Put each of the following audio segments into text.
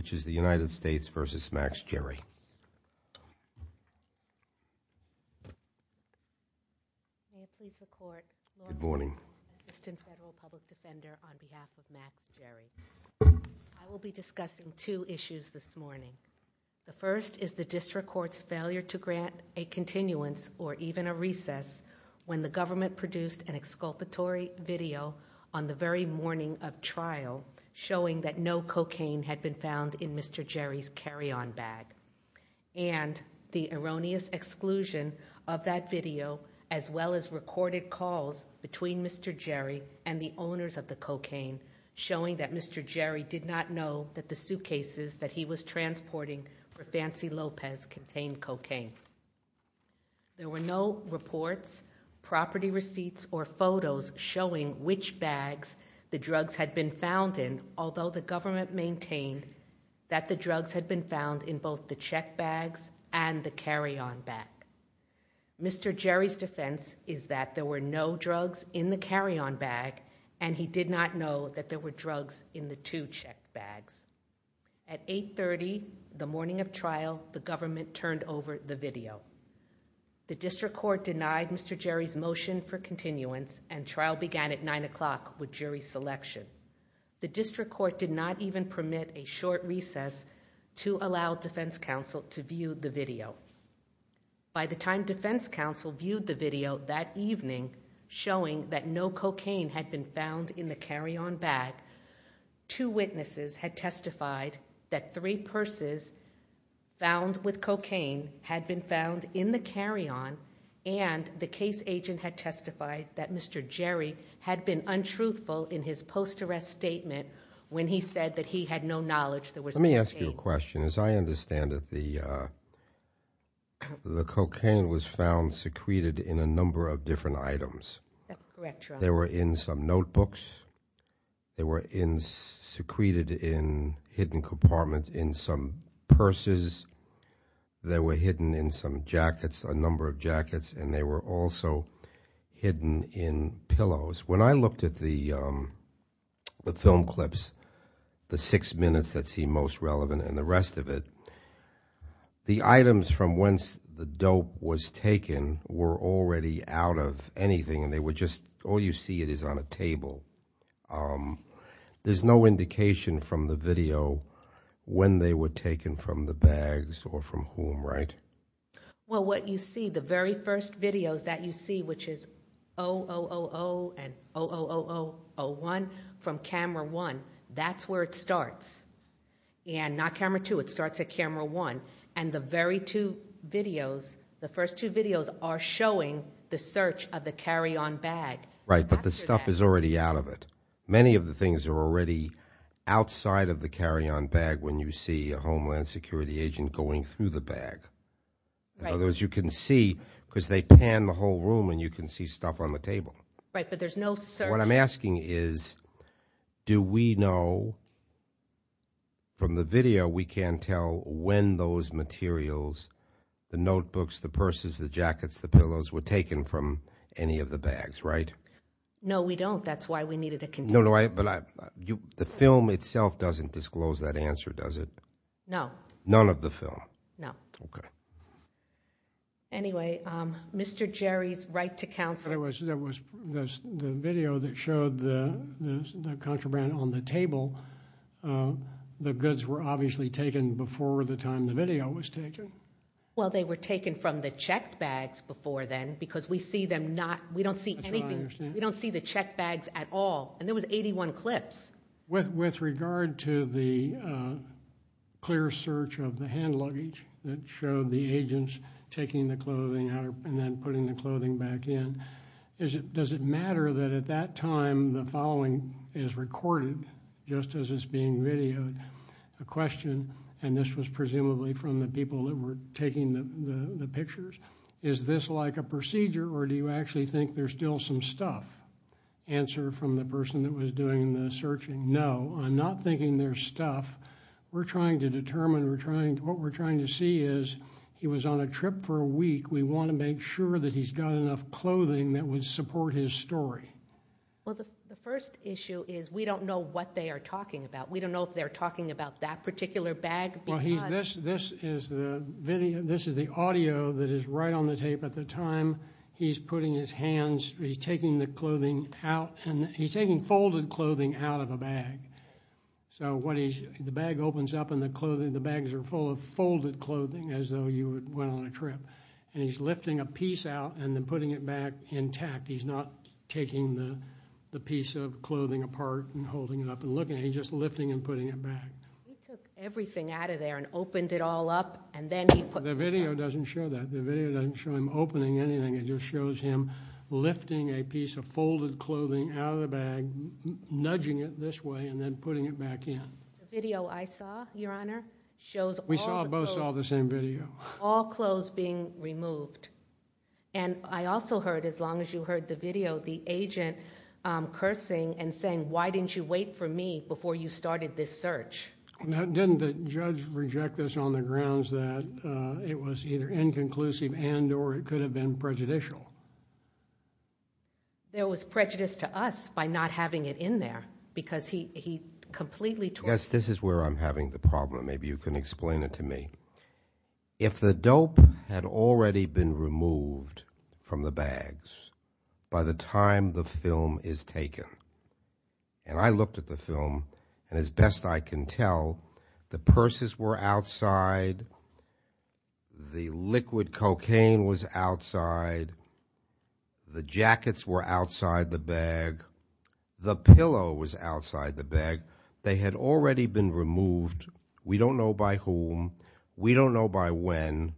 I will be discussing two issues this morning. The first is the District Court's failure to grant a continuance or even a recess when the government produced an exculpatory video on the very morning of trial showing that no cocaine had been found in Mr. Jeri's carry-on bag and the erroneous exclusion of that video as well as recorded calls between Mr. Jeri and the owners of the cocaine showing that Mr. Jeri did not know that the suitcases that he was transporting for Fancy Lopez contained cocaine. There were no reports, property receipts, or photos showing which bags the drugs had been found in, although the government maintained that the drugs had been found in both the check bags and the carry-on bag. Mr. Jeri's defense is that there were no drugs in the carry-on bag and he did not know that there were drugs in the two check bags. At 830, the morning of trial, the government turned over the video. The District Court denied Mr. Jeri's motion for continuance and trial began at 9 o'clock with jury selection. The District Court did not even permit a short recess to allow defense counsel to view the video. By the time defense counsel viewed the video that evening showing that no cocaine had been found in the carry-on bag, two witnesses had testified that three purses found with cocaine had been found in the carry-on and the case agent had testified that Mr. Jeri had been untruthful in his post-arrest statement when he said that he had no knowledge there was cocaine. Let me ask you a question. As I understand it, the cocaine was found secreted in a number of different items. That's correct, Your Honor. They were in some notebooks. They were secreted in hidden compartments in some purses. They were hidden in some jackets, a number of jackets, and they were also hidden in pillows. When I looked at the film clips, the six minutes that seem most relevant and the rest of it, the items from whence the dope was taken were already out of anything and they were just, all you see it is on a table. There's no indication from the video when they were taken from the bags or from whom, right? Well, what you see, the very first videos that you see, which is 000 and 00001 from camera one, that's where it starts and not camera two. It starts at camera one and the very two videos, the first two videos are showing the search of the carry-on bag. Right, but the stuff is already out of it. Many of the things are already outside of the carry-on bag when you see a Homeland Security agent going through the bag. In other words, you can see, because they pan the whole room and you can see stuff on the table. Right, but there's no search. What I'm asking is, do we know from the video, we can tell when those materials, the notebooks, the purses, the jackets, the pillows, were taken from any of the bags, right? No, we don't. That's why we needed a container. No, no, but the film itself doesn't disclose that answer, does it? No. None of the film? No. Okay. Anyway, Mr. Jerry's right to counsel. There was the video that showed the contraband on the table. The goods were obviously taken before the time the video was taken. Well, they were taken from the checked bags before then, because we see them not, we don't That's what I understand. We don't see the checked bags at all, and there was 81 clips. With regard to the clear search of the hand luggage that showed the agents taking the clothing out and then putting the clothing back in, does it matter that at that time the following is recorded, just as is being videoed, a question, and this was presumably from the people that were taking the pictures, is this like a procedure, or do you actually think there's still some stuff? Answer from the person that was doing the searching, no, I'm not thinking there's stuff. We're trying to determine, what we're trying to see is, he was on a trip for a week. We want to make sure that he's got enough clothing that would support his story. Well, the first issue is we don't know what they are talking about. We don't know if they're talking about that particular bag. Well, this is the audio that is right on the tape at the time he's putting his hands, he's taking the clothing out, and he's taking folded clothing out of a bag, so the bag opens up and the bags are full of folded clothing as though you went on a trip, and he's lifting a piece out and then putting it back intact. He's not taking the piece of clothing apart and holding it up and looking at it, he's just lifting and putting it back. He took everything out of there and opened it all up and then he put it back. The video doesn't show that. The video doesn't show him opening anything. It just shows him lifting a piece of folded clothing out of the bag, nudging it this way, and then putting it back in. The video I saw, Your Honor, shows all the clothes. We saw, both saw the same video. All clothes being removed. And I also heard, as long as you heard the video, the agent cursing and saying, why didn't you wait for me before you started this search? Now, didn't the judge reject this on the grounds that it was either inconclusive and or it could have been prejudicial? There was prejudice to us by not having it in there, because he completely... Yes, this is where I'm having the problem, maybe you can explain it to me. If the dope had already been removed from the bags by the time the film is taken, and I looked at the film, and as best I can tell, the purses were outside, the liquid cocaine was outside, the jackets were outside the bag, the pillow was outside the bag. They had already been removed. We don't know by whom. We don't know by when.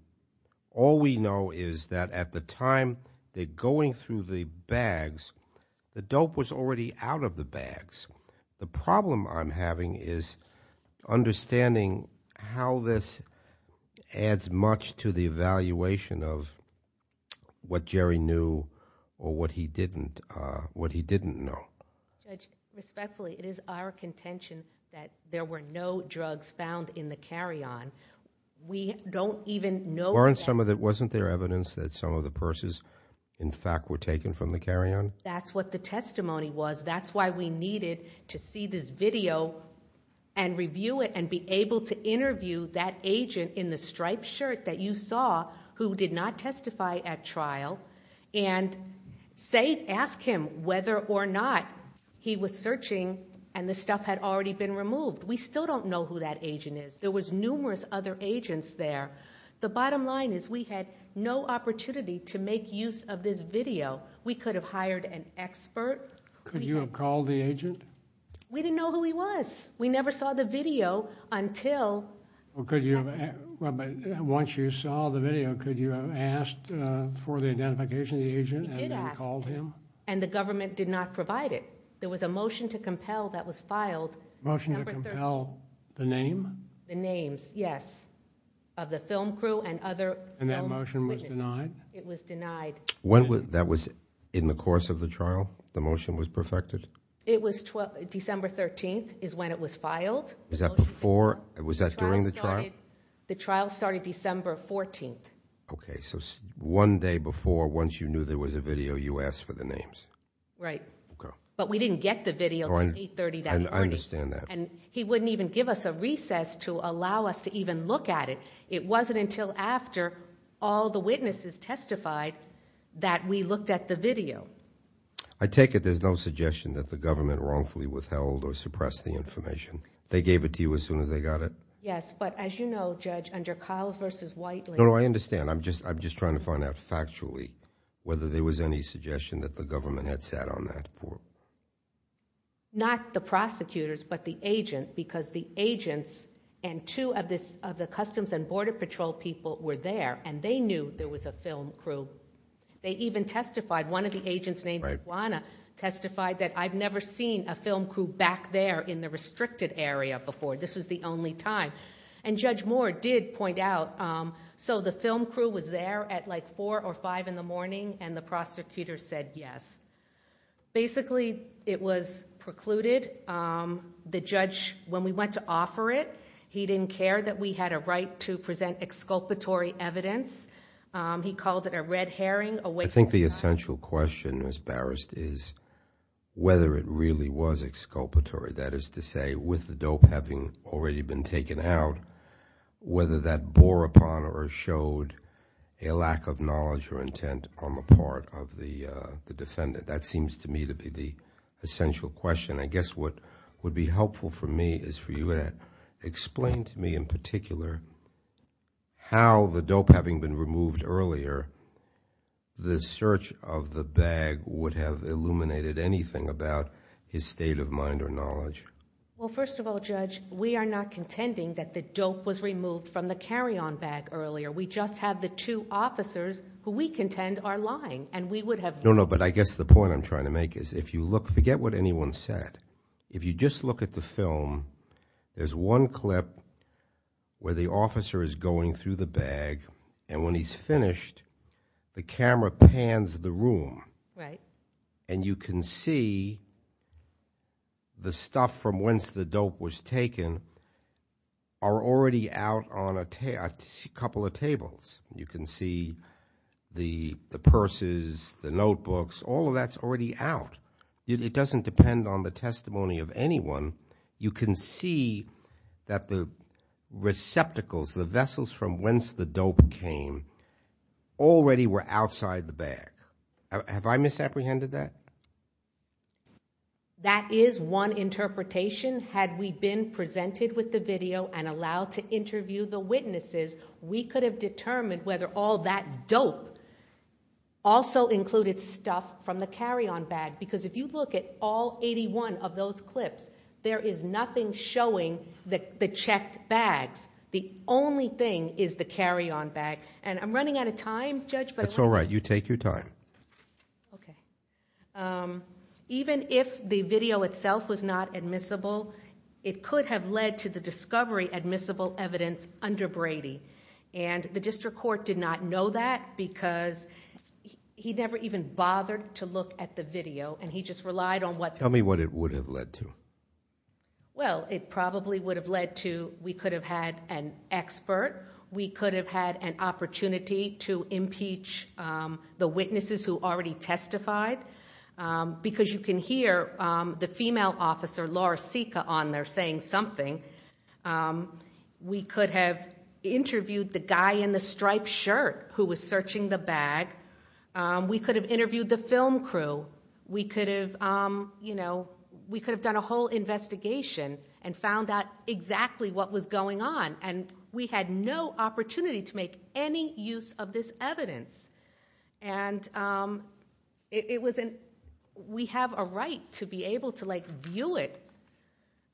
All we know is that at the time they're going through the bags, the dope was already out of the bags. The problem I'm having is understanding how this adds much to the evaluation of what Jerry knew or what he didn't know. Judge, respectfully, it is our contention that there were no drugs found in the carry-on. We don't even know... Weren't some of... wasn't there evidence that some of the purses, in fact, were taken from the carry-on? That's what the testimony was. That's why we needed to see this video and review it and be able to interview that agent in the striped shirt that you saw, who did not testify at trial, and ask him whether or not he was searching and the stuff had already been removed. We still don't know who that agent is. There was numerous other agents there. The bottom line is we had no opportunity to make use of this video. We could have hired an expert. Could you have called the agent? We didn't know who he was. We never saw the video until... Once you saw the video, could you have asked for the identification of the agent and then called him? We did ask, and the government did not provide it. There was a motion to compel that was filed. Motion to compel the name? The names, yes, of the film crew and other film witnesses. That motion was denied? It was denied. That was in the course of the trial, the motion was perfected? It was December 13th is when it was filed. Was that during the trial? The trial started December 14th. Okay, so one day before, once you knew there was a video, you asked for the names? Right. But we didn't get the video until 830 that morning. I understand that. He wouldn't even give us a recess to allow us to even look at it. It wasn't until after all the witnesses testified that we looked at the video. I take it there's no suggestion that the government wrongfully withheld or suppressed the information? They gave it to you as soon as they got it? Yes, but as you know, Judge, under Kyles v. Whiteley... No, I understand. I'm just trying to find out factually whether there was any suggestion that the government had sat on that form. Not the prosecutors, but the agent, because the agents and two of the Customs and Border Patrol people were there, and they knew there was a film crew. They even testified. One of the agents named Juana testified that, I've never seen a film crew back there in the restricted area before. This was the only time. Judge Moore did point out, so the film crew was there at like four or five in the morning, and the prosecutor said yes. Basically, it was precluded. The judge, when we went to offer it, he didn't care that we had a right to present exculpatory evidence. He called it a red herring... I think the essential question, Ms. Barrist, is whether it really was exculpatory. That is to say, with the dope having already been taken out, whether that bore upon or showed a lack of knowledge or intent on the part of the defendant. That seems to me to be the essential question. I guess what would be helpful for me is for you to explain to me in particular how the dope having been removed earlier, the search of the bag would have illuminated anything about his state of mind or knowledge. Well, first of all, Judge, we are not contending that the dope was removed from the carry-on bag earlier. We just have the two officers who we contend are lying, and we would have... No, no, but I guess the point I'm trying to make is if you look, forget what anyone said. If you just look at the film, there's one clip where the officer is going through the bag, and when he's finished, the camera pans the room, and you can see the stuff from whence the dope was taken are already out on a couple of tables. You can see the purses, the notebooks, all of that's already out. It doesn't depend on the testimony of anyone. You can see that the receptacles, the vessels from whence the dope came, already were outside the bag. Have I misapprehended that? That is one interpretation. Had we been presented with the video and allowed to interview the witnesses, we could have determined whether all that dope also included stuff from the carry-on bag, because if you look at all eighty-one of those clips, there is nothing showing the checked bags. The only thing is the carry-on bag, and I'm running out of time, Judge, but... That's all right. You take your time. Okay. Even if the video itself was not admissible, it could have led to the discovery admissible evidence under Brady, and the district court did not know that because he never even bothered to look at the video, and he just relied on what... Tell me what it would have led to. Well, it probably would have led to, we could have had an expert, we could have had an opportunity to impeach the witnesses who already testified, because you can hear the female officer, Laura Sika, on there saying something. We could have interviewed the guy in the striped shirt who was searching the bag. We could have interviewed the film crew. We could have done a whole investigation and found out exactly what was going on, and we had no opportunity to make any use of this evidence. We have a right to be able to view it,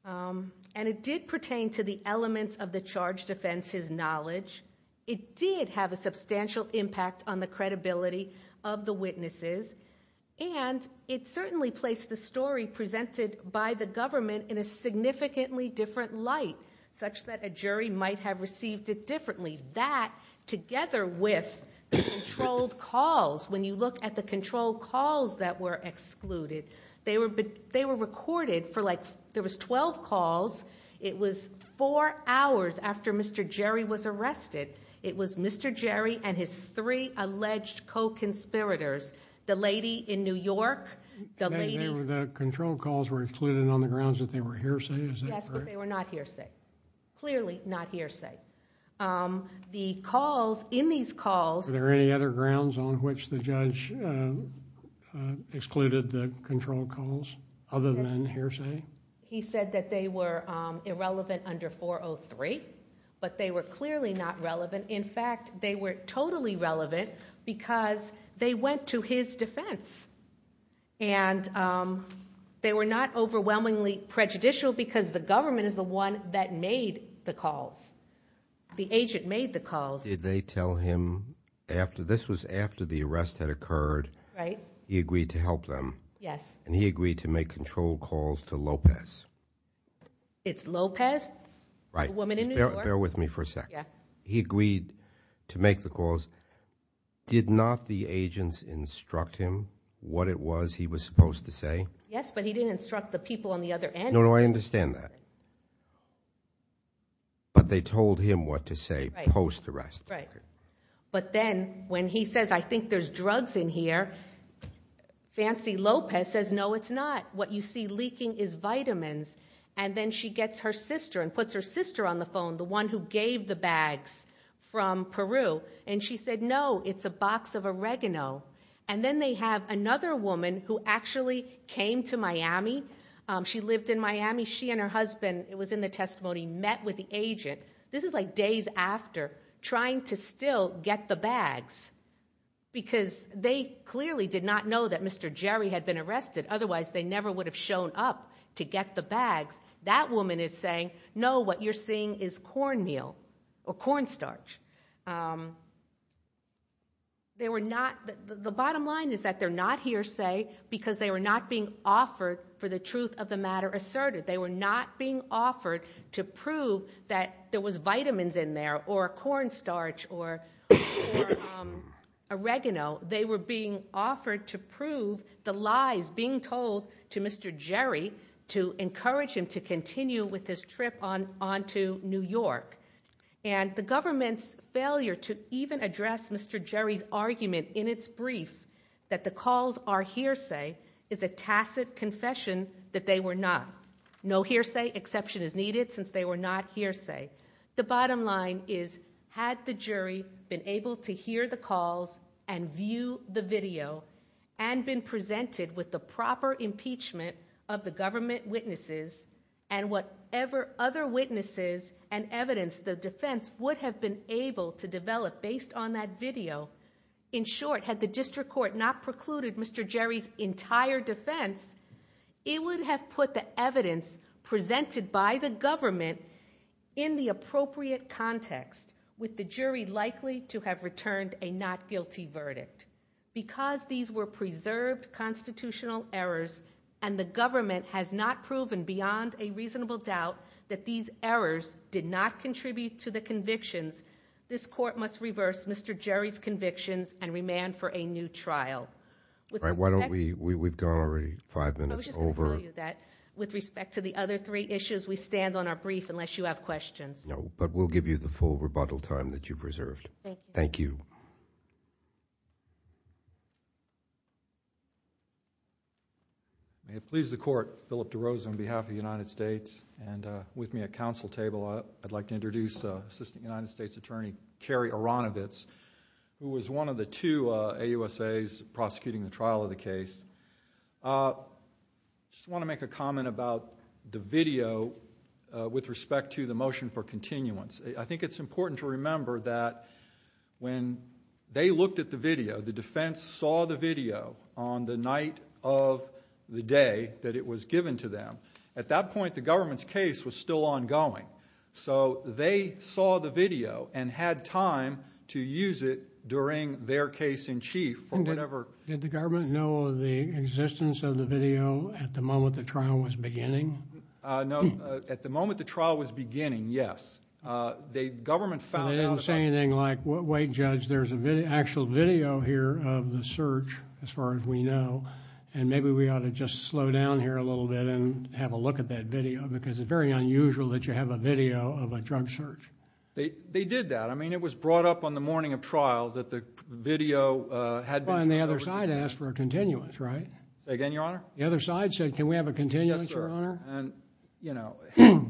and it did pertain to the elements of the charged offense's knowledge. It did have a substantial impact on the credibility of the witnesses, and it certainly placed the story presented by the government in a significantly different light, such that a different way that, together with the controlled calls, when you look at the controlled calls that were excluded, they were recorded for like... there was 12 calls. It was four hours after Mr. Jerry was arrested. It was Mr. Jerry and his three alleged co-conspirators. The lady in New York, the lady... The controlled calls were excluded on the grounds that they were hearsay, is that correct? Yes, but they were not hearsay. Clearly not hearsay. The calls, in these calls... Were there any other grounds on which the judge excluded the controlled calls other than hearsay? He said that they were irrelevant under 403, but they were clearly not relevant. In fact, they were totally relevant because they went to his defense. They were not overwhelmingly prejudicial because the government is the one that made the calls. The agent made the calls. Did they tell him, this was after the arrest had occurred, he agreed to help them? Yes. He agreed to make controlled calls to Lopez? It's Lopez, the woman in New York? Bear with me for a second. He agreed to make the calls. Did not the agents instruct him what it was he was supposed to say? Yes, but he didn't instruct the people on the other end. No, no, I understand that. But they told him what to say post-arrest. Right. But then when he says, I think there's drugs in here, Fancy Lopez says, no, it's not. What you see leaking is vitamins. And then she gets her sister and puts her sister on the phone, the one who gave the bags from Peru. And she said, no, it's a box of oregano. And then they have another woman who actually came to Miami. She lived in Miami. She and her husband, it was in the testimony, met with the agent. This is like days after trying to still get the bags because they clearly did not know that Mr. Jerry had been arrested. Otherwise, they never would have shown up to get the bags. That woman is saying, no, what you're seeing is cornmeal or cornstarch. The bottom line is that they're not here, say, because they were not being offered for the truth of the matter asserted. They were not being offered to prove that there was vitamins in there or cornstarch or oregano. They were being offered to prove the lies being told to Mr. Jerry to encourage him to continue with his trip on to New York. And the government's failure to even address Mr. Jerry's argument in its brief that the calls are hearsay is a tacit confession that they were not. No hearsay exception is needed since they were not hearsay. The bottom line is, had the jury been able to hear the calls and view the video and been presented with the proper impeachment of the government witnesses. And whatever other witnesses and evidence the defense would have been able to develop based on that video. In short, had the district court not precluded Mr. Jerry's entire defense, it would have put the evidence presented by the government in the appropriate context. With the jury likely to have returned a not guilty verdict. Because these were preserved constitutional errors and the government has not proven beyond a reasonable doubt that these errors did not contribute to the convictions. This court must reverse Mr. Jerry's convictions and remand for a new trial. All right, why don't we, we've gone already five minutes over. I was just going to tell you that with respect to the other three issues, we stand on our brief unless you have questions. No, but we'll give you the full rebuttal time that you preserved. Thank you. Thank you. May it please the court, Philip DeRosa on behalf of the United States. And with me at council table, I'd like to introduce Assistant United States Attorney, Kerry Aronowitz, who was one of the two AUSAs prosecuting the trial of the case. I just want to make a comment about the video with respect to the motion for continuance. I think it's important to remember that when they looked at the video, the defense saw the video on the night of the day that it was given to them. At that point, the government's case was still ongoing. So they saw the video and had time to use it during their case in chief or whatever. Did the government know of the existence of the video at the moment the trial was beginning? No, at the moment the trial was beginning, yes. The government found out about it. They didn't say anything like, wait, judge, there's an actual video here of the search as far as we know, and maybe we ought to just slow down here a little bit and have a look at that video because it's very unusual that you have a video of a drug search. They did that. I mean, it was brought up on the morning of trial that the video had been... And the other side asked for a continuance, right? Say again, Your Honor? The other side said, can we have a continuance, Your Honor? Yes, sir.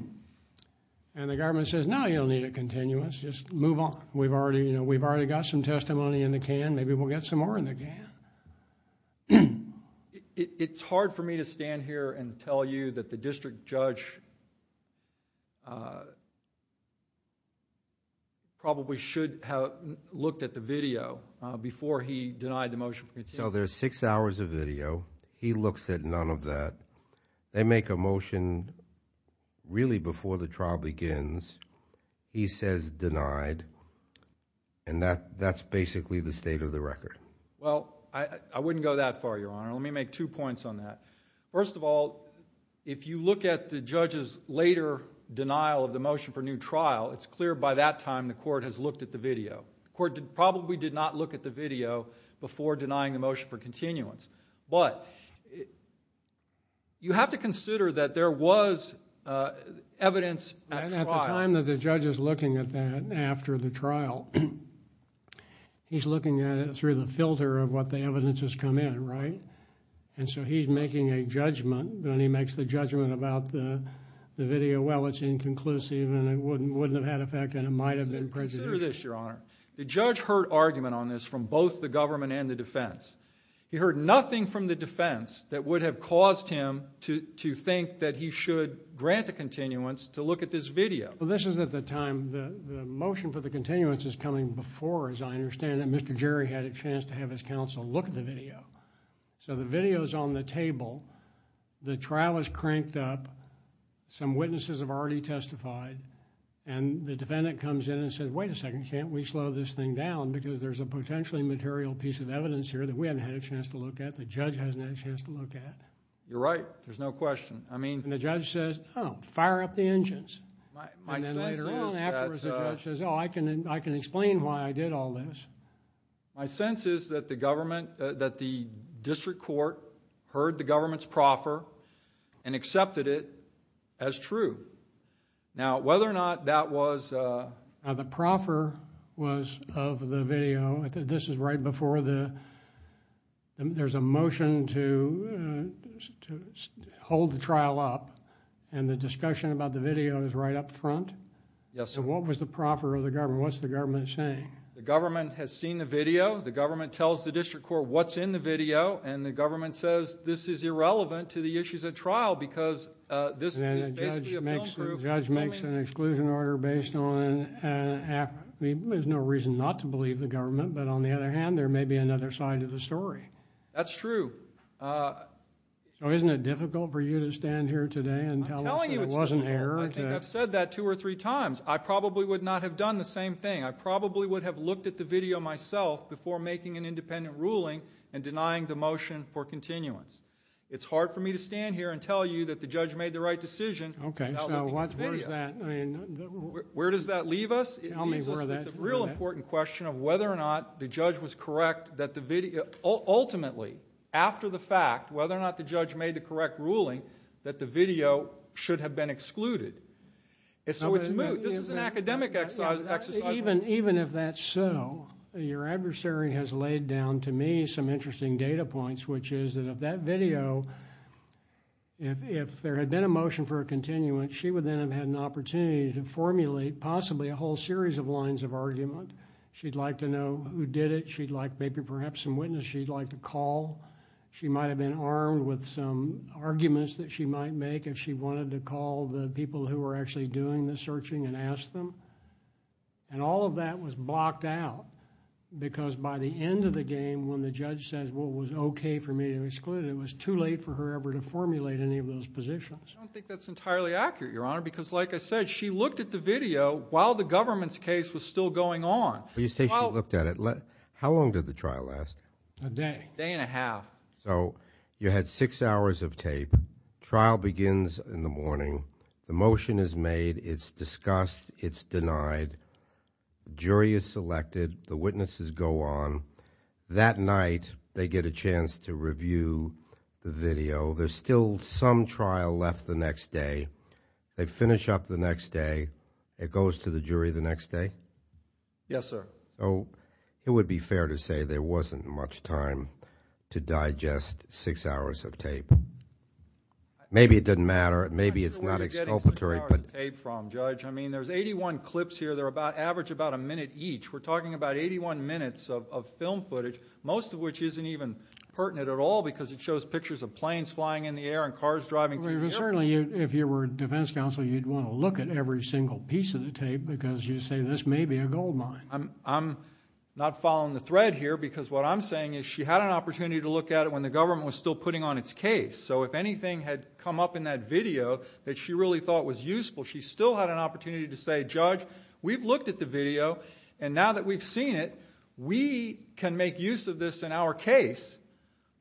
And the government says, no, you don't need a continuance. Just move on. We've already got some testimony in the can. Maybe we'll get some more in the can. It's hard for me to stand here and tell you that the district judge probably should have looked at the video before he denied the motion. So there's six hours of video. He looks at none of that. They make a motion really before the trial begins. He says denied, and that's basically the state of the record. Well, I wouldn't go that far, Your Honor. Let me make two points on that. First of all, if you look at the judge's later denial of the motion for new trial, it's clear by that time the court has looked at the video. The court probably did not look at the video before denying the motion for continuance. But you have to consider that there was evidence at trial... And at the time that the judge is looking at that after the trial, he's looking at it through the filter of what the evidence has come in, right? And so he's making a judgment, and he makes the judgment about the video. Well, it's inconclusive, and it wouldn't have had effect, and it might have been prejudicial. Consider this, Your Honor. The judge heard argument on this from both the government and the defense. He heard nothing from the defense that would have caused him to think that he should grant a continuance to look at this video. Well, this is at the time the motion for the continuance is coming before, as I understand it, Mr. Jerry had a chance to have his counsel look at the video. So the video is on the table. The trial is cranked up. Some witnesses have already testified. And the defendant comes in and says, wait a second, can't we slow this thing down because there's a potentially material piece of evidence here that we haven't had a chance to look at, the judge hasn't had a chance to look at? You're right. There's no question. I mean... And the judge says, oh, fire up the engines. My sense is that... And then later on afterwards, the judge says, oh, I can explain why I did all this. My sense is that the district court heard the government's proffer and accepted it as true. Now, whether or not that was... The proffer was of the video. This is right before the... there's a motion to hold the trial up. And the discussion about the video is right up front? Yes, sir. So what was the proffer of the government? What's the government saying? The government has seen the video. The government tells the district court what's in the video. And the government says this is irrelevant to the issues at trial because this is basically a... And the judge makes an exclusion order based on... There's no reason not to believe the government. But on the other hand, there may be another side to the story. That's true. So isn't it difficult for you to stand here today and tell us there was an error? I'm telling you it's difficult. I think I've said that two or three times. I probably would not have done the same thing. I probably would have looked at the video myself before making an independent ruling and denying the motion for continuance. It's hard for me to stand here and tell you that the judge made the right decision without looking at the video. Okay, so where does that... Where does that leave us? Tell me where that... After the fact, whether or not the judge made the correct ruling, that the video should have been excluded. And so it's moot. This is an academic exercise. Even if that's so, your adversary has laid down to me some interesting data points, which is that if that video... if there had been a motion for a continuance, she would then have had an opportunity to formulate possibly a whole series of lines of argument. She'd like to know who did it. She'd like maybe perhaps some witness. She'd like to call. She might have been armed with some arguments that she might make if she wanted to call the people who were actually doing the searching and ask them. And all of that was blocked out because by the end of the game, when the judge says, well, it was okay for me to exclude it, it was too late for her ever to formulate any of those positions. I don't think that's entirely accurate, Your Honor, because like I said, she looked at the video while the government's case was still going on. You say she looked at it. How long did the trial last? A day. A day and a half. So you had six hours of tape. Trial begins in the morning. The motion is made. It's discussed. It's denied. The jury is selected. The witnesses go on. That night, they get a chance to review the video. There's still some trial left the next day. They finish up the next day. It goes to the jury the next day? Yes, sir. It would be fair to say there wasn't much time to digest six hours of tape. Maybe it didn't matter. Maybe it's not exculpatory. I don't know where you're getting six hours of tape from, Judge. I mean, there's 81 clips here that average about a minute each. We're talking about 81 minutes of film footage, most of which isn't even pertinent at all because it shows pictures of planes flying in the air and cars driving through the airport. Certainly, if you were a defense counsel, you'd want to look at every single piece of the tape because you'd say this may be a goldmine. I'm not following the thread here because what I'm saying is she had an opportunity to look at it when the government was still putting on its case. So if anything had come up in that video that she really thought was useful, she still had an opportunity to say, Judge, we've looked at the video, and now that we've seen it, we can make use of this in our case.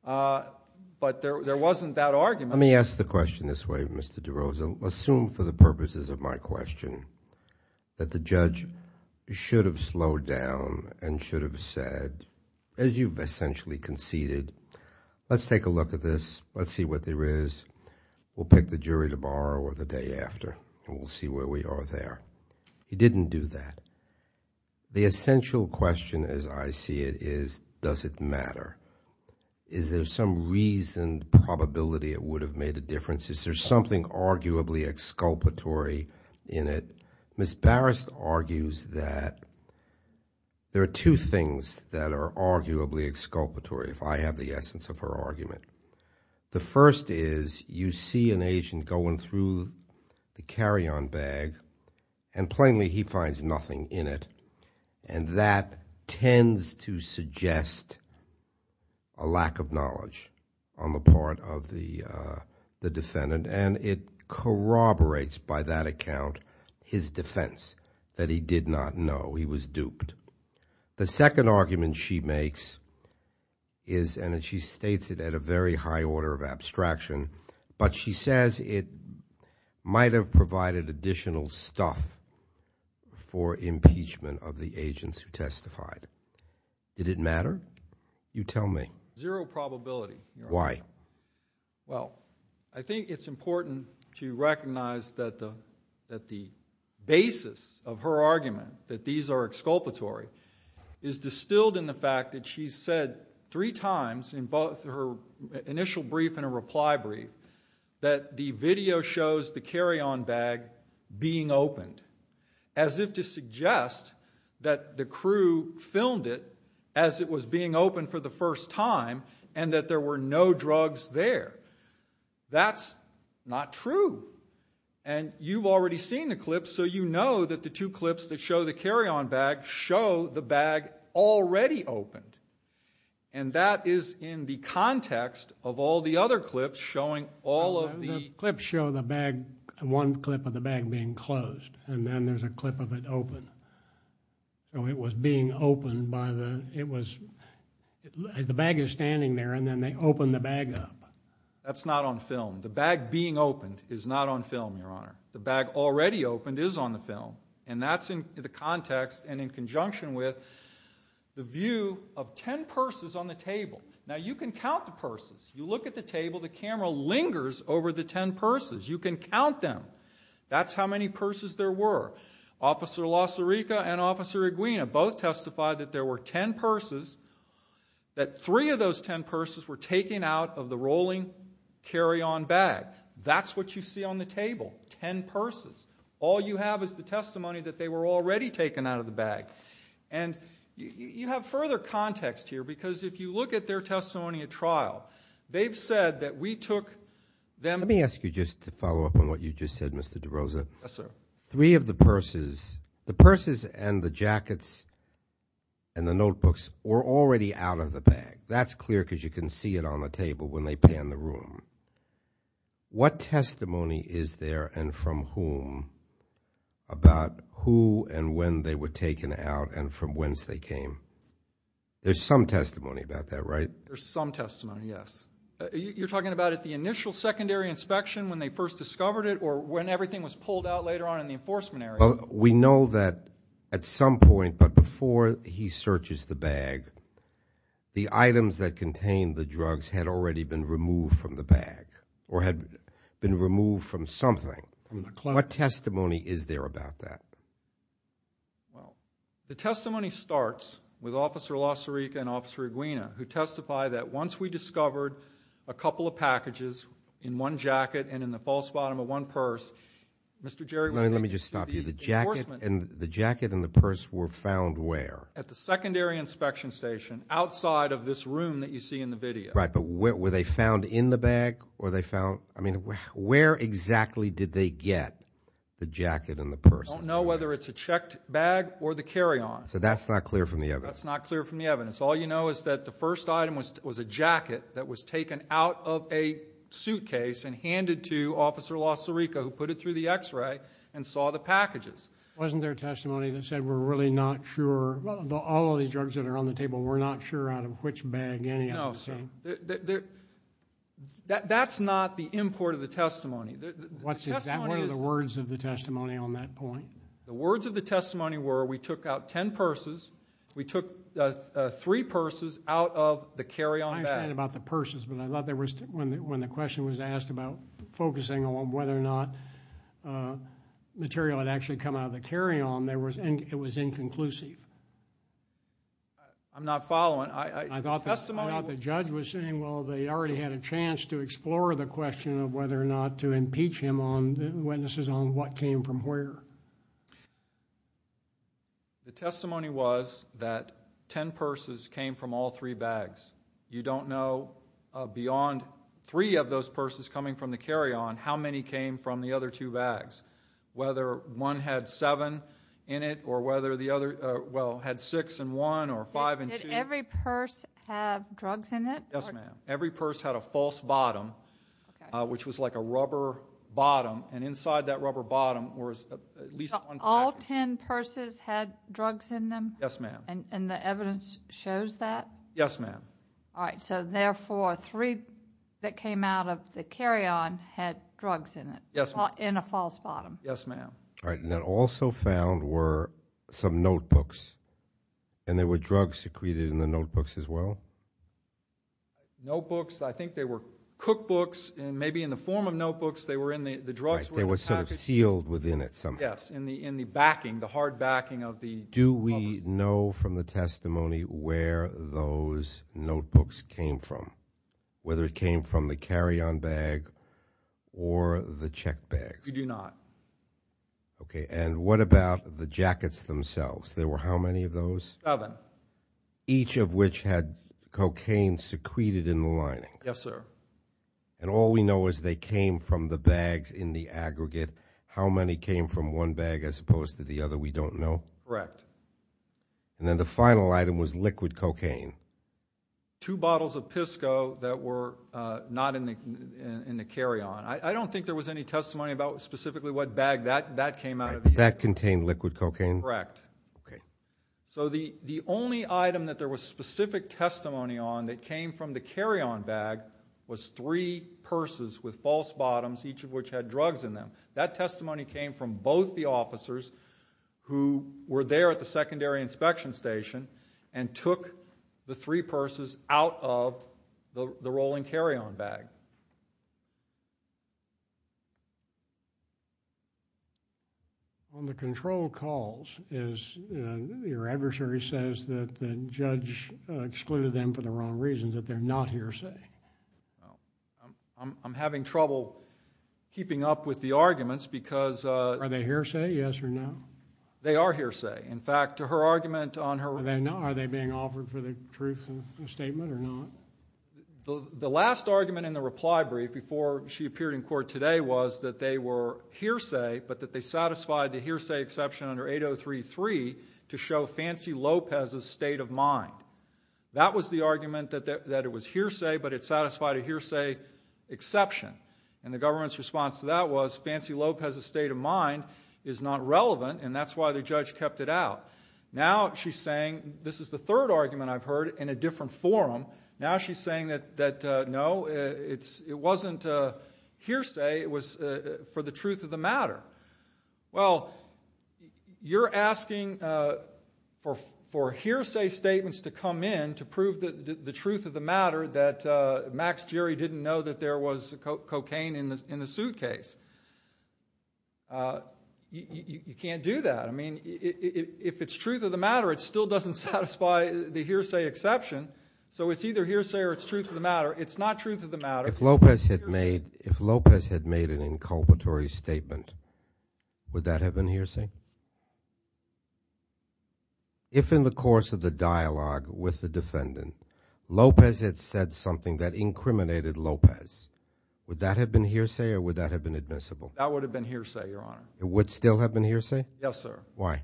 But there wasn't that argument. Let me ask the question this way, Mr. DeRosa. Assume for the purposes of my question that the judge should have slowed down and should have said, as you've essentially conceded, let's take a look at this. Let's see what there is. We'll pick the jury tomorrow or the day after, and we'll see where we are there. He didn't do that. The essential question as I see it is, does it matter? Is there some reason, probability it would have made a difference? Is there something arguably exculpatory in it? Ms. Barrist argues that there are two things that are arguably exculpatory, if I have the essence of her argument. The first is you see an agent going through the carry-on bag, and plainly he finds nothing in it, and that tends to suggest a lack of knowledge on the part of the defendant, and it corroborates by that account his defense that he did not know he was duped. The second argument she makes is, and she states it at a very high order of abstraction, but she says it might have provided additional stuff for impeachment of the agents who testified. Did it matter? You tell me. Zero probability. Why? Well, I think it's important to recognize that the basis of her argument, that these are exculpatory, is distilled in the fact that she said three times in both her initial brief and her reply brief that the video shows the carry-on bag being opened, as if to suggest that the crew filmed it as it was being opened for the first time and that there were no drugs there. That's not true, and you've already seen the clips, so you know that the two clips that show the carry-on bag show the bag already opened, and that is in the context of all the other clips showing all of the... The clips show the bag, one clip of the bag being closed, and then there's a clip of it open. So it was being opened by the, it was, the bag is standing there, and then they open the bag up. That's not on film. The bag being opened is not on film, Your Honor. The bag already opened is on the film, and that's in the context and in conjunction with the view of ten purses on the table. Now, you can count the purses. You look at the table. The camera lingers over the ten purses. You can count them. That's how many purses there were. Officer Lacerica and Officer Iguina both testified that there were ten purses, that three of those ten purses were taken out of the rolling carry-on bag. That's what you see on the table, ten purses. All you have is the testimony that they were already taken out of the bag. And you have further context here because if you look at their testimony at trial, they've said that we took them. Let me ask you just to follow up on what you just said, Mr. DeRosa. Yes, sir. Three of the purses, the purses and the jackets and the notebooks, were already out of the bag. That's clear because you can see it on the table when they pan the room. What testimony is there and from whom about who and when they were taken out and from whence they came? There's some testimony about that, right? There's some testimony, yes. You're talking about at the initial secondary inspection when they first discovered it or when everything was pulled out later on in the enforcement area? Well, we know that at some point, but before he searches the bag, the items that contained the drugs had already been removed from the bag or had been removed from something. What testimony is there about that? Well, the testimony starts with Officer LaSarica and Officer Iguina, who testify that once we discovered a couple of packages in one jacket and in the false bottom of one purse, Mr. Jerry would think that the jacket and the purse were found where? At the secondary inspection station outside of this room that you see in the video. Right, but were they found in the bag? I mean, where exactly did they get the jacket and the purse? I don't know whether it's a checked bag or the carry-on. So that's not clear from the evidence? That's not clear from the evidence. All you know is that the first item was a jacket that was taken out of a suitcase and handed to Officer LaSarica, who put it through the X-ray and saw the packages. Wasn't there testimony that said we're really not sure, all of the drugs that are on the table, we're not sure out of which bag any of them came? No, sir. That's not the import of the testimony. What's exactly the words of the testimony on that point? The words of the testimony were we took out ten purses, we took three purses out of the carry-on bag. I understand about the purses, but I thought when the question was asked about focusing on whether or not material had actually come out of the carry-on, it was inconclusive. I'm not following. I thought the judge was saying, well, they already had a chance to explore the question of whether or not to impeach him on witnesses on what came from where. The testimony was that ten purses came from all three bags. You don't know beyond three of those purses coming from the carry-on how many came from the other two bags, whether one had seven in it or whether the other had six and one or five and two. Did every purse have drugs in it? Yes, ma'am. Every purse had a false bottom, which was like a rubber bottom, and inside that rubber bottom was at least one bag. All ten purses had drugs in them? Yes, ma'am. And the evidence shows that? Yes, ma'am. All right. So, therefore, three that came out of the carry-on had drugs in it? Yes, ma'am. In a false bottom? Yes, ma'am. All right. And then also found were some notebooks, and there were drugs secreted in the notebooks as well? Notebooks, I think they were cookbooks, and maybe in the form of notebooks they were in the drugs. They were sort of sealed within it somehow. Yes, in the backing, the hard backing of the cover. Do we know from the testimony where those notebooks came from, whether it came from the carry-on bag or the check bag? We do not. Okay. And what about the jackets themselves? There were how many of those? Seven. Each of which had cocaine secreted in the lining? Yes, sir. And all we know is they came from the bags in the aggregate. How many came from one bag as opposed to the other we don't know? Correct. And then the final item was liquid cocaine? Two bottles of Pisco that were not in the carry-on. I don't think there was any testimony about specifically what bag that came out of. That contained liquid cocaine? Correct. Okay. So the only item that there was specific testimony on that came from the carry-on bag was three purses with false bottoms, each of which had drugs in them. That testimony came from both the officers who were there at the secondary inspection station and took the three purses out of the rolling carry-on bag. On the control calls, your adversary says that the judge excluded them for the wrong reasons, that they're not hearsay. I'm having trouble keeping up with the arguments because... Are they hearsay, yes or no? They are hearsay. In fact, her argument on her... Are they being offered for the truth statement or not? The last argument in the reply brief before she appeared in court today was that they were hearsay, but that they satisfied the hearsay exception under 8033 to show Fancy Lopez's state of mind. That was the argument, that it was hearsay, but it satisfied a hearsay exception. And the government's response to that was, Fancy Lopez's state of mind is not relevant, and that's why the judge kept it out. Now she's saying... This is the third argument I've heard in a different forum. Now she's saying that, no, it wasn't hearsay. It was for the truth of the matter. Well, you're asking for hearsay statements to come in to prove the truth of the matter, that Max Gehry didn't know that there was cocaine in the suitcase. You can't do that. I mean, if it's truth of the matter, it still doesn't satisfy the hearsay exception. So it's either hearsay or it's truth of the matter. It's not truth of the matter. If Lopez had made an inculpatory statement, would that have been hearsay? If in the course of the dialogue with the defendant, Lopez had said something that incriminated Lopez, would that have been hearsay or would that have been admissible? That would have been hearsay, Your Honor. It would still have been hearsay? Yes, sir. Why?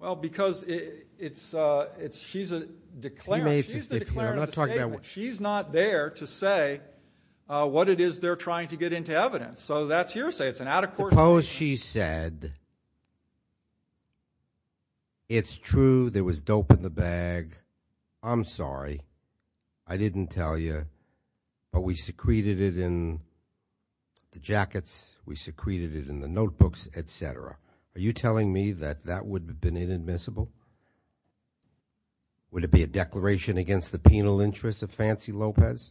Well, because she's a declarer. She's the declarer of the statement. She's not there to say what it is they're trying to get into evidence. So that's hearsay. It's an out-of-court statement. Suppose she said it's true there was dope in the bag. I'm sorry. I didn't tell you, but we secreted it in the jackets. We secreted it in the notebooks, et cetera. Are you telling me that that would have been inadmissible? Would it be a declaration against the penal interests of Fancy Lopez?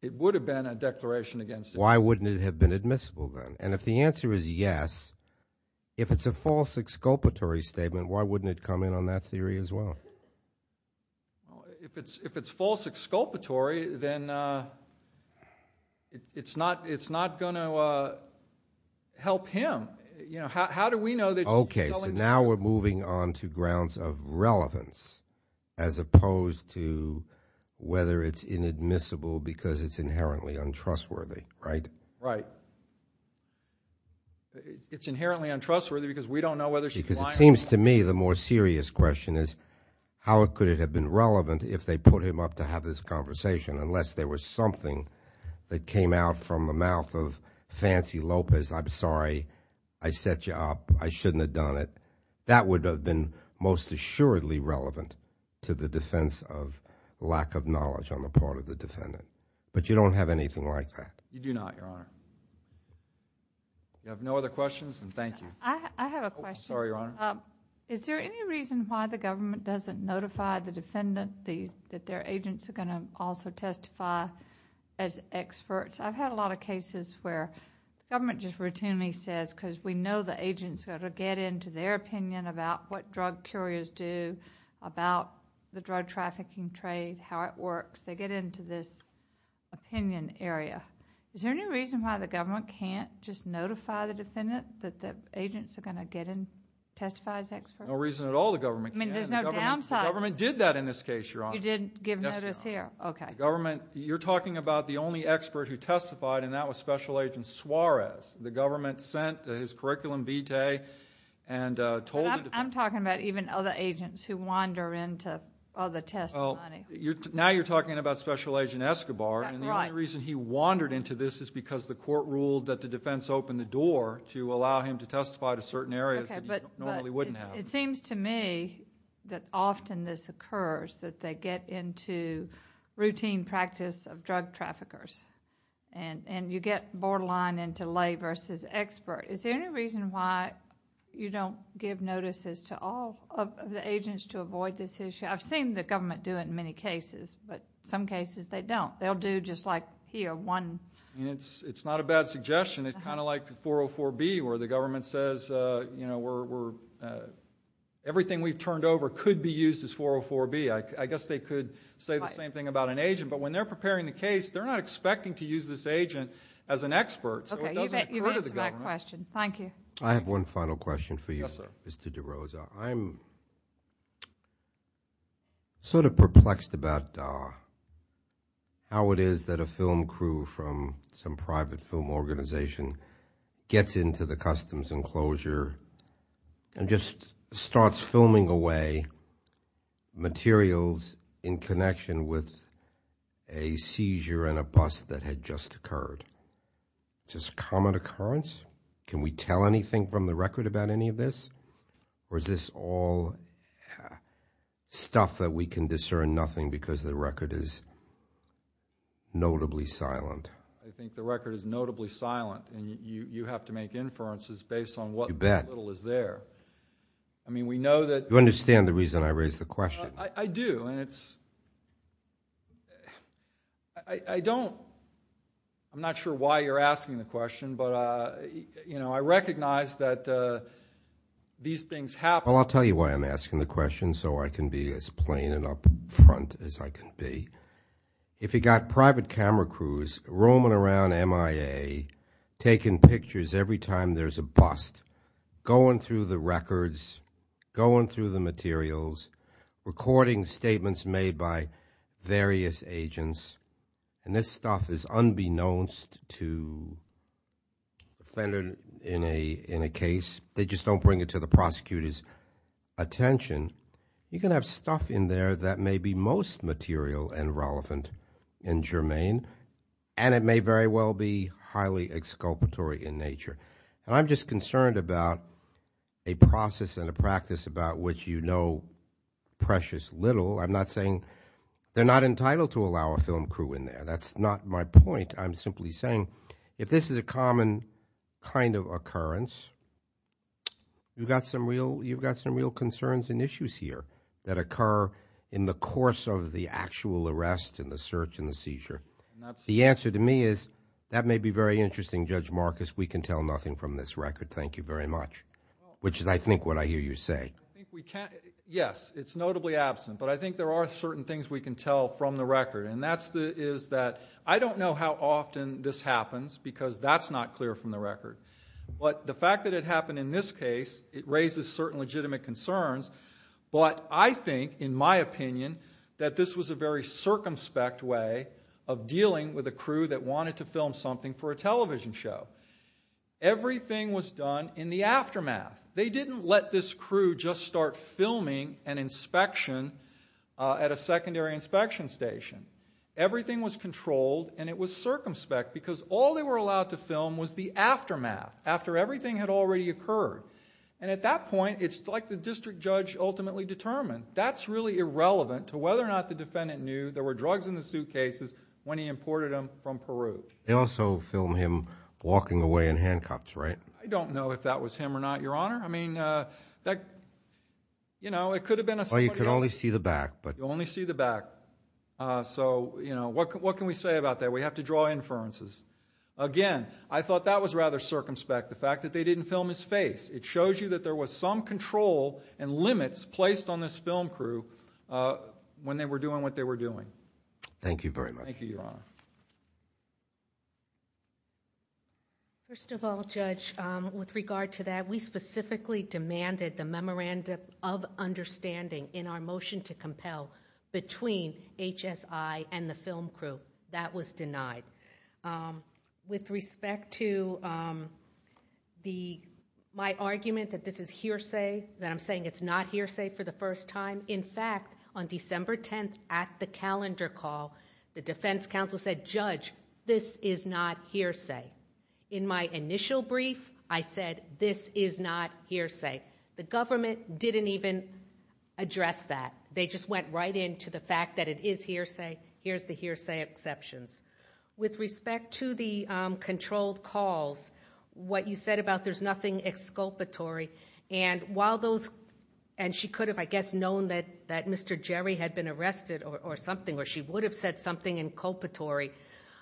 It would have been a declaration against it. Why wouldn't it have been admissible then? And if the answer is yes, if it's a false exculpatory statement, why wouldn't it come in on that theory as well? If it's false exculpatory, then it's not going to help him. How do we know that she's telling the truth? Okay, so now we're moving on to grounds of relevance as opposed to whether it's inadmissible because it's inherently untrustworthy, right? Right. It's inherently untrustworthy because we don't know whether she's lying or not. Because it seems to me the more serious question is how could it have been relevant if they put him up to have this conversation unless there was something that came out from the mouth of Fancy Lopez. I'm sorry. I set you up. I shouldn't have done it. That would have been most assuredly relevant to the defense of lack of knowledge on the part of the defendant, but you don't have anything like that. You do not, Your Honor. You have no other questions, and thank you. I have a question. Sorry, Your Honor. Is there any reason why the government doesn't notify the defendant that their agents are going to also testify as experts? I've had a lot of cases where government just routinely says because we know the agents got to get into their opinion about what drug couriers do, about the drug trafficking trade, how it works. They get into this opinion area. Is there any reason why the government can't just notify the defendant that the agents are going to get in and testify as experts? No reason at all the government can't. There's no downsides? The government did that in this case, Your Honor. You did give notice here? Yes, Your Honor. Okay. You're talking about the only expert who testified, and that was Special Agent Suarez. The government sent his curriculum vitae and told... I'm talking about even other agents who wander into other testimony. Now you're talking about Special Agent Escobar. Right. The only reason he wandered into this is because the court ruled that the defense opened the door to allow him to testify to certain areas that he normally wouldn't have. It seems to me that often this occurs, that they get into routine practice of drug traffickers, and you get borderline into lay versus expert. Is there any reason why you don't give notices to all of the agents to avoid this issue? I've seen the government do it in many cases, but some cases they don't. They'll do just like here, one... It's not a bad suggestion. It's kind of like 404B where the government says everything we've turned over could be used as 404B. I guess they could say the same thing about an agent, but when they're preparing the case, they're not expecting to use this agent as an expert, so it doesn't occur to the government. Okay. You've answered my question. Yes, sir. I'm sort of perplexed about how it is that a film crew from some private film organization gets into the customs enclosure and just starts filming away materials in connection with a seizure and a bust that had just occurred. Is this a common occurrence? Can we tell anything from the record about any of this, or is this all stuff that we can discern nothing because the record is notably silent? I think the record is notably silent, and you have to make inferences based on what little is there. You bet. I mean, we know that... You understand the reason I raised the question. I do, and it's... I don't... I'm not sure why you're asking the question, but I recognize that these things happen. Well, I'll tell you why I'm asking the question so I can be as plain and up front as I can be. If you've got private camera crews roaming around MIA, taking pictures every time there's a bust, going through the records, going through the materials, recording statements made by various agents, and this stuff is unbeknownst to a defendant in a case, they just don't bring it to the prosecutor's attention, you can have stuff in there that may be most material and relevant and germane, and it may very well be highly exculpatory in nature. And I'm just concerned about a process and a practice about which you know precious little. I'm not saying they're not entitled to allow a film crew in there. That's not my point. I'm simply saying if this is a common kind of occurrence, you've got some real concerns and issues here that occur in the course of the actual arrest and the search and the seizure. The answer to me is that may be very interesting, Judge Marcus. We can tell nothing from this record, thank you very much, which is, I think, what I hear you say. Yes, it's notably absent. But I think there are certain things we can tell from the record, and that is that I don't know how often this happens because that's not clear from the record. But the fact that it happened in this case, it raises certain legitimate concerns. But I think, in my opinion, that this was a very circumspect way of dealing with a crew that wanted to film something for a television show. Everything was done in the aftermath. They didn't let this crew just start filming an inspection at a secondary inspection station. Everything was controlled, and it was circumspect because all they were allowed to film was the aftermath, after everything had already occurred. And at that point, it's like the district judge ultimately determined, that's really irrelevant to whether or not the defendant knew there were drugs in the suitcases when he imported them from Peru. They also filmed him walking away in handcuffs, right? I don't know if that was him or not, Your Honor. I mean, that, you know, it could have been someone else. Well, you could only see the back. You could only see the back. So, you know, what can we say about that? We have to draw inferences. Again, I thought that was rather circumspect, the fact that they didn't film his face. It shows you that there was some control and limits placed on this film crew when they were doing what they were doing. Thank you very much. Thank you, Your Honor. First of all, Judge, with regard to that, we specifically demanded the memorandum of understanding in our motion to compel between HSI and the film crew. That was denied. With respect to my argument that this is hearsay, that I'm saying it's not hearsay for the first time, in fact, on December 10th at the calendar call, the defense counsel said, Judge, this is not hearsay. In my initial brief, I said this is not hearsay. The government didn't even address that. They just went right into the fact that it is hearsay. Here's the hearsay exceptions. With respect to the controlled calls, what you said about there's nothing exculpatory, and she could have, I guess, known that Mr. Jerry had been arrested or something, or she would have said something inculpatory.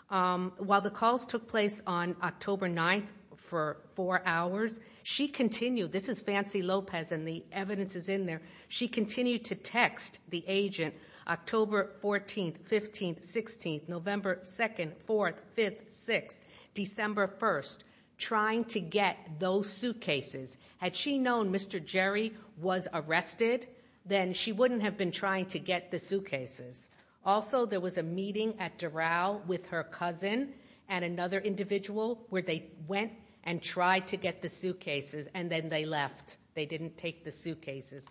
While the calls took place on October 9th for four hours, she continued. This is Fancy Lopez, and the evidence is in there. She continued to text the agent October 14th, 15th, 16th, November 2nd, 4th, 5th, 6th, December 1st, trying to get those suitcases. Had she known Mr. Jerry was arrested, then she wouldn't have been trying to get the suitcases. Also, there was a meeting at Doral with her cousin and another individual where they went and tried to get the suitcases, and then they left. They didn't take the suitcases.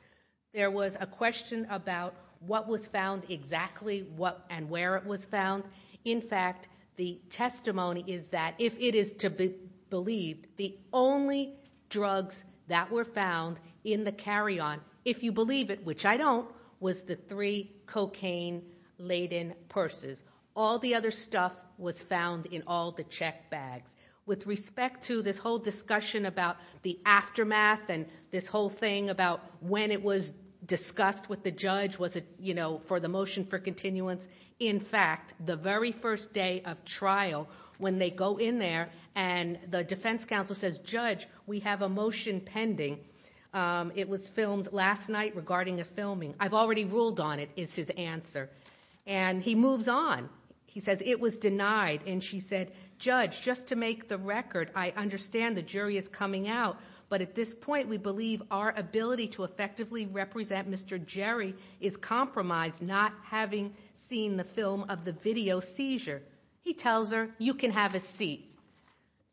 There was a question about what was found exactly, what and where it was found. In fact, the testimony is that, if it is to be believed, the only drugs that were found in the carry-on, if you believe it, which I don't, was the three cocaine-laden purses. All the other stuff was found in all the check bags. With respect to this whole discussion about the aftermath and this whole thing about when it was discussed with the judge for the motion for continuance, in fact, the very first day of trial, when they go in there and the defense counsel says, Judge, we have a motion pending. It was filmed last night regarding a filming. I've already ruled on it, is his answer. He moves on. He says it was denied, and she said, Judge, just to make the record, I understand the jury is coming out, but at this point, we believe our ability to effectively represent Mr. Jerry is compromised, not having seen the film of the video seizure. He tells her, You can have a seat.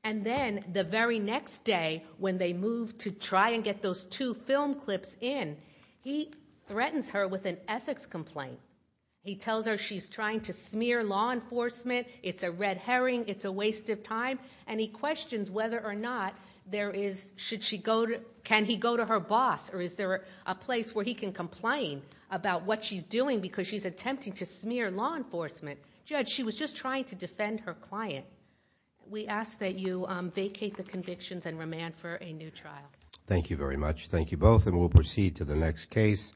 And then the very next day, when they move to try and get those two film clips in, he threatens her with an ethics complaint. He tells her she's trying to smear law enforcement. It's a red herring. It's a waste of time. And he questions whether or not there is, should she go to, can he go to her boss, or is there a place where he can complain about what she's doing because she's attempting to smear law enforcement. Judge, she was just trying to defend her client. We ask that you vacate the convictions and remand for a new trial. Thank you very much. Thank you both, and we'll proceed to the next case.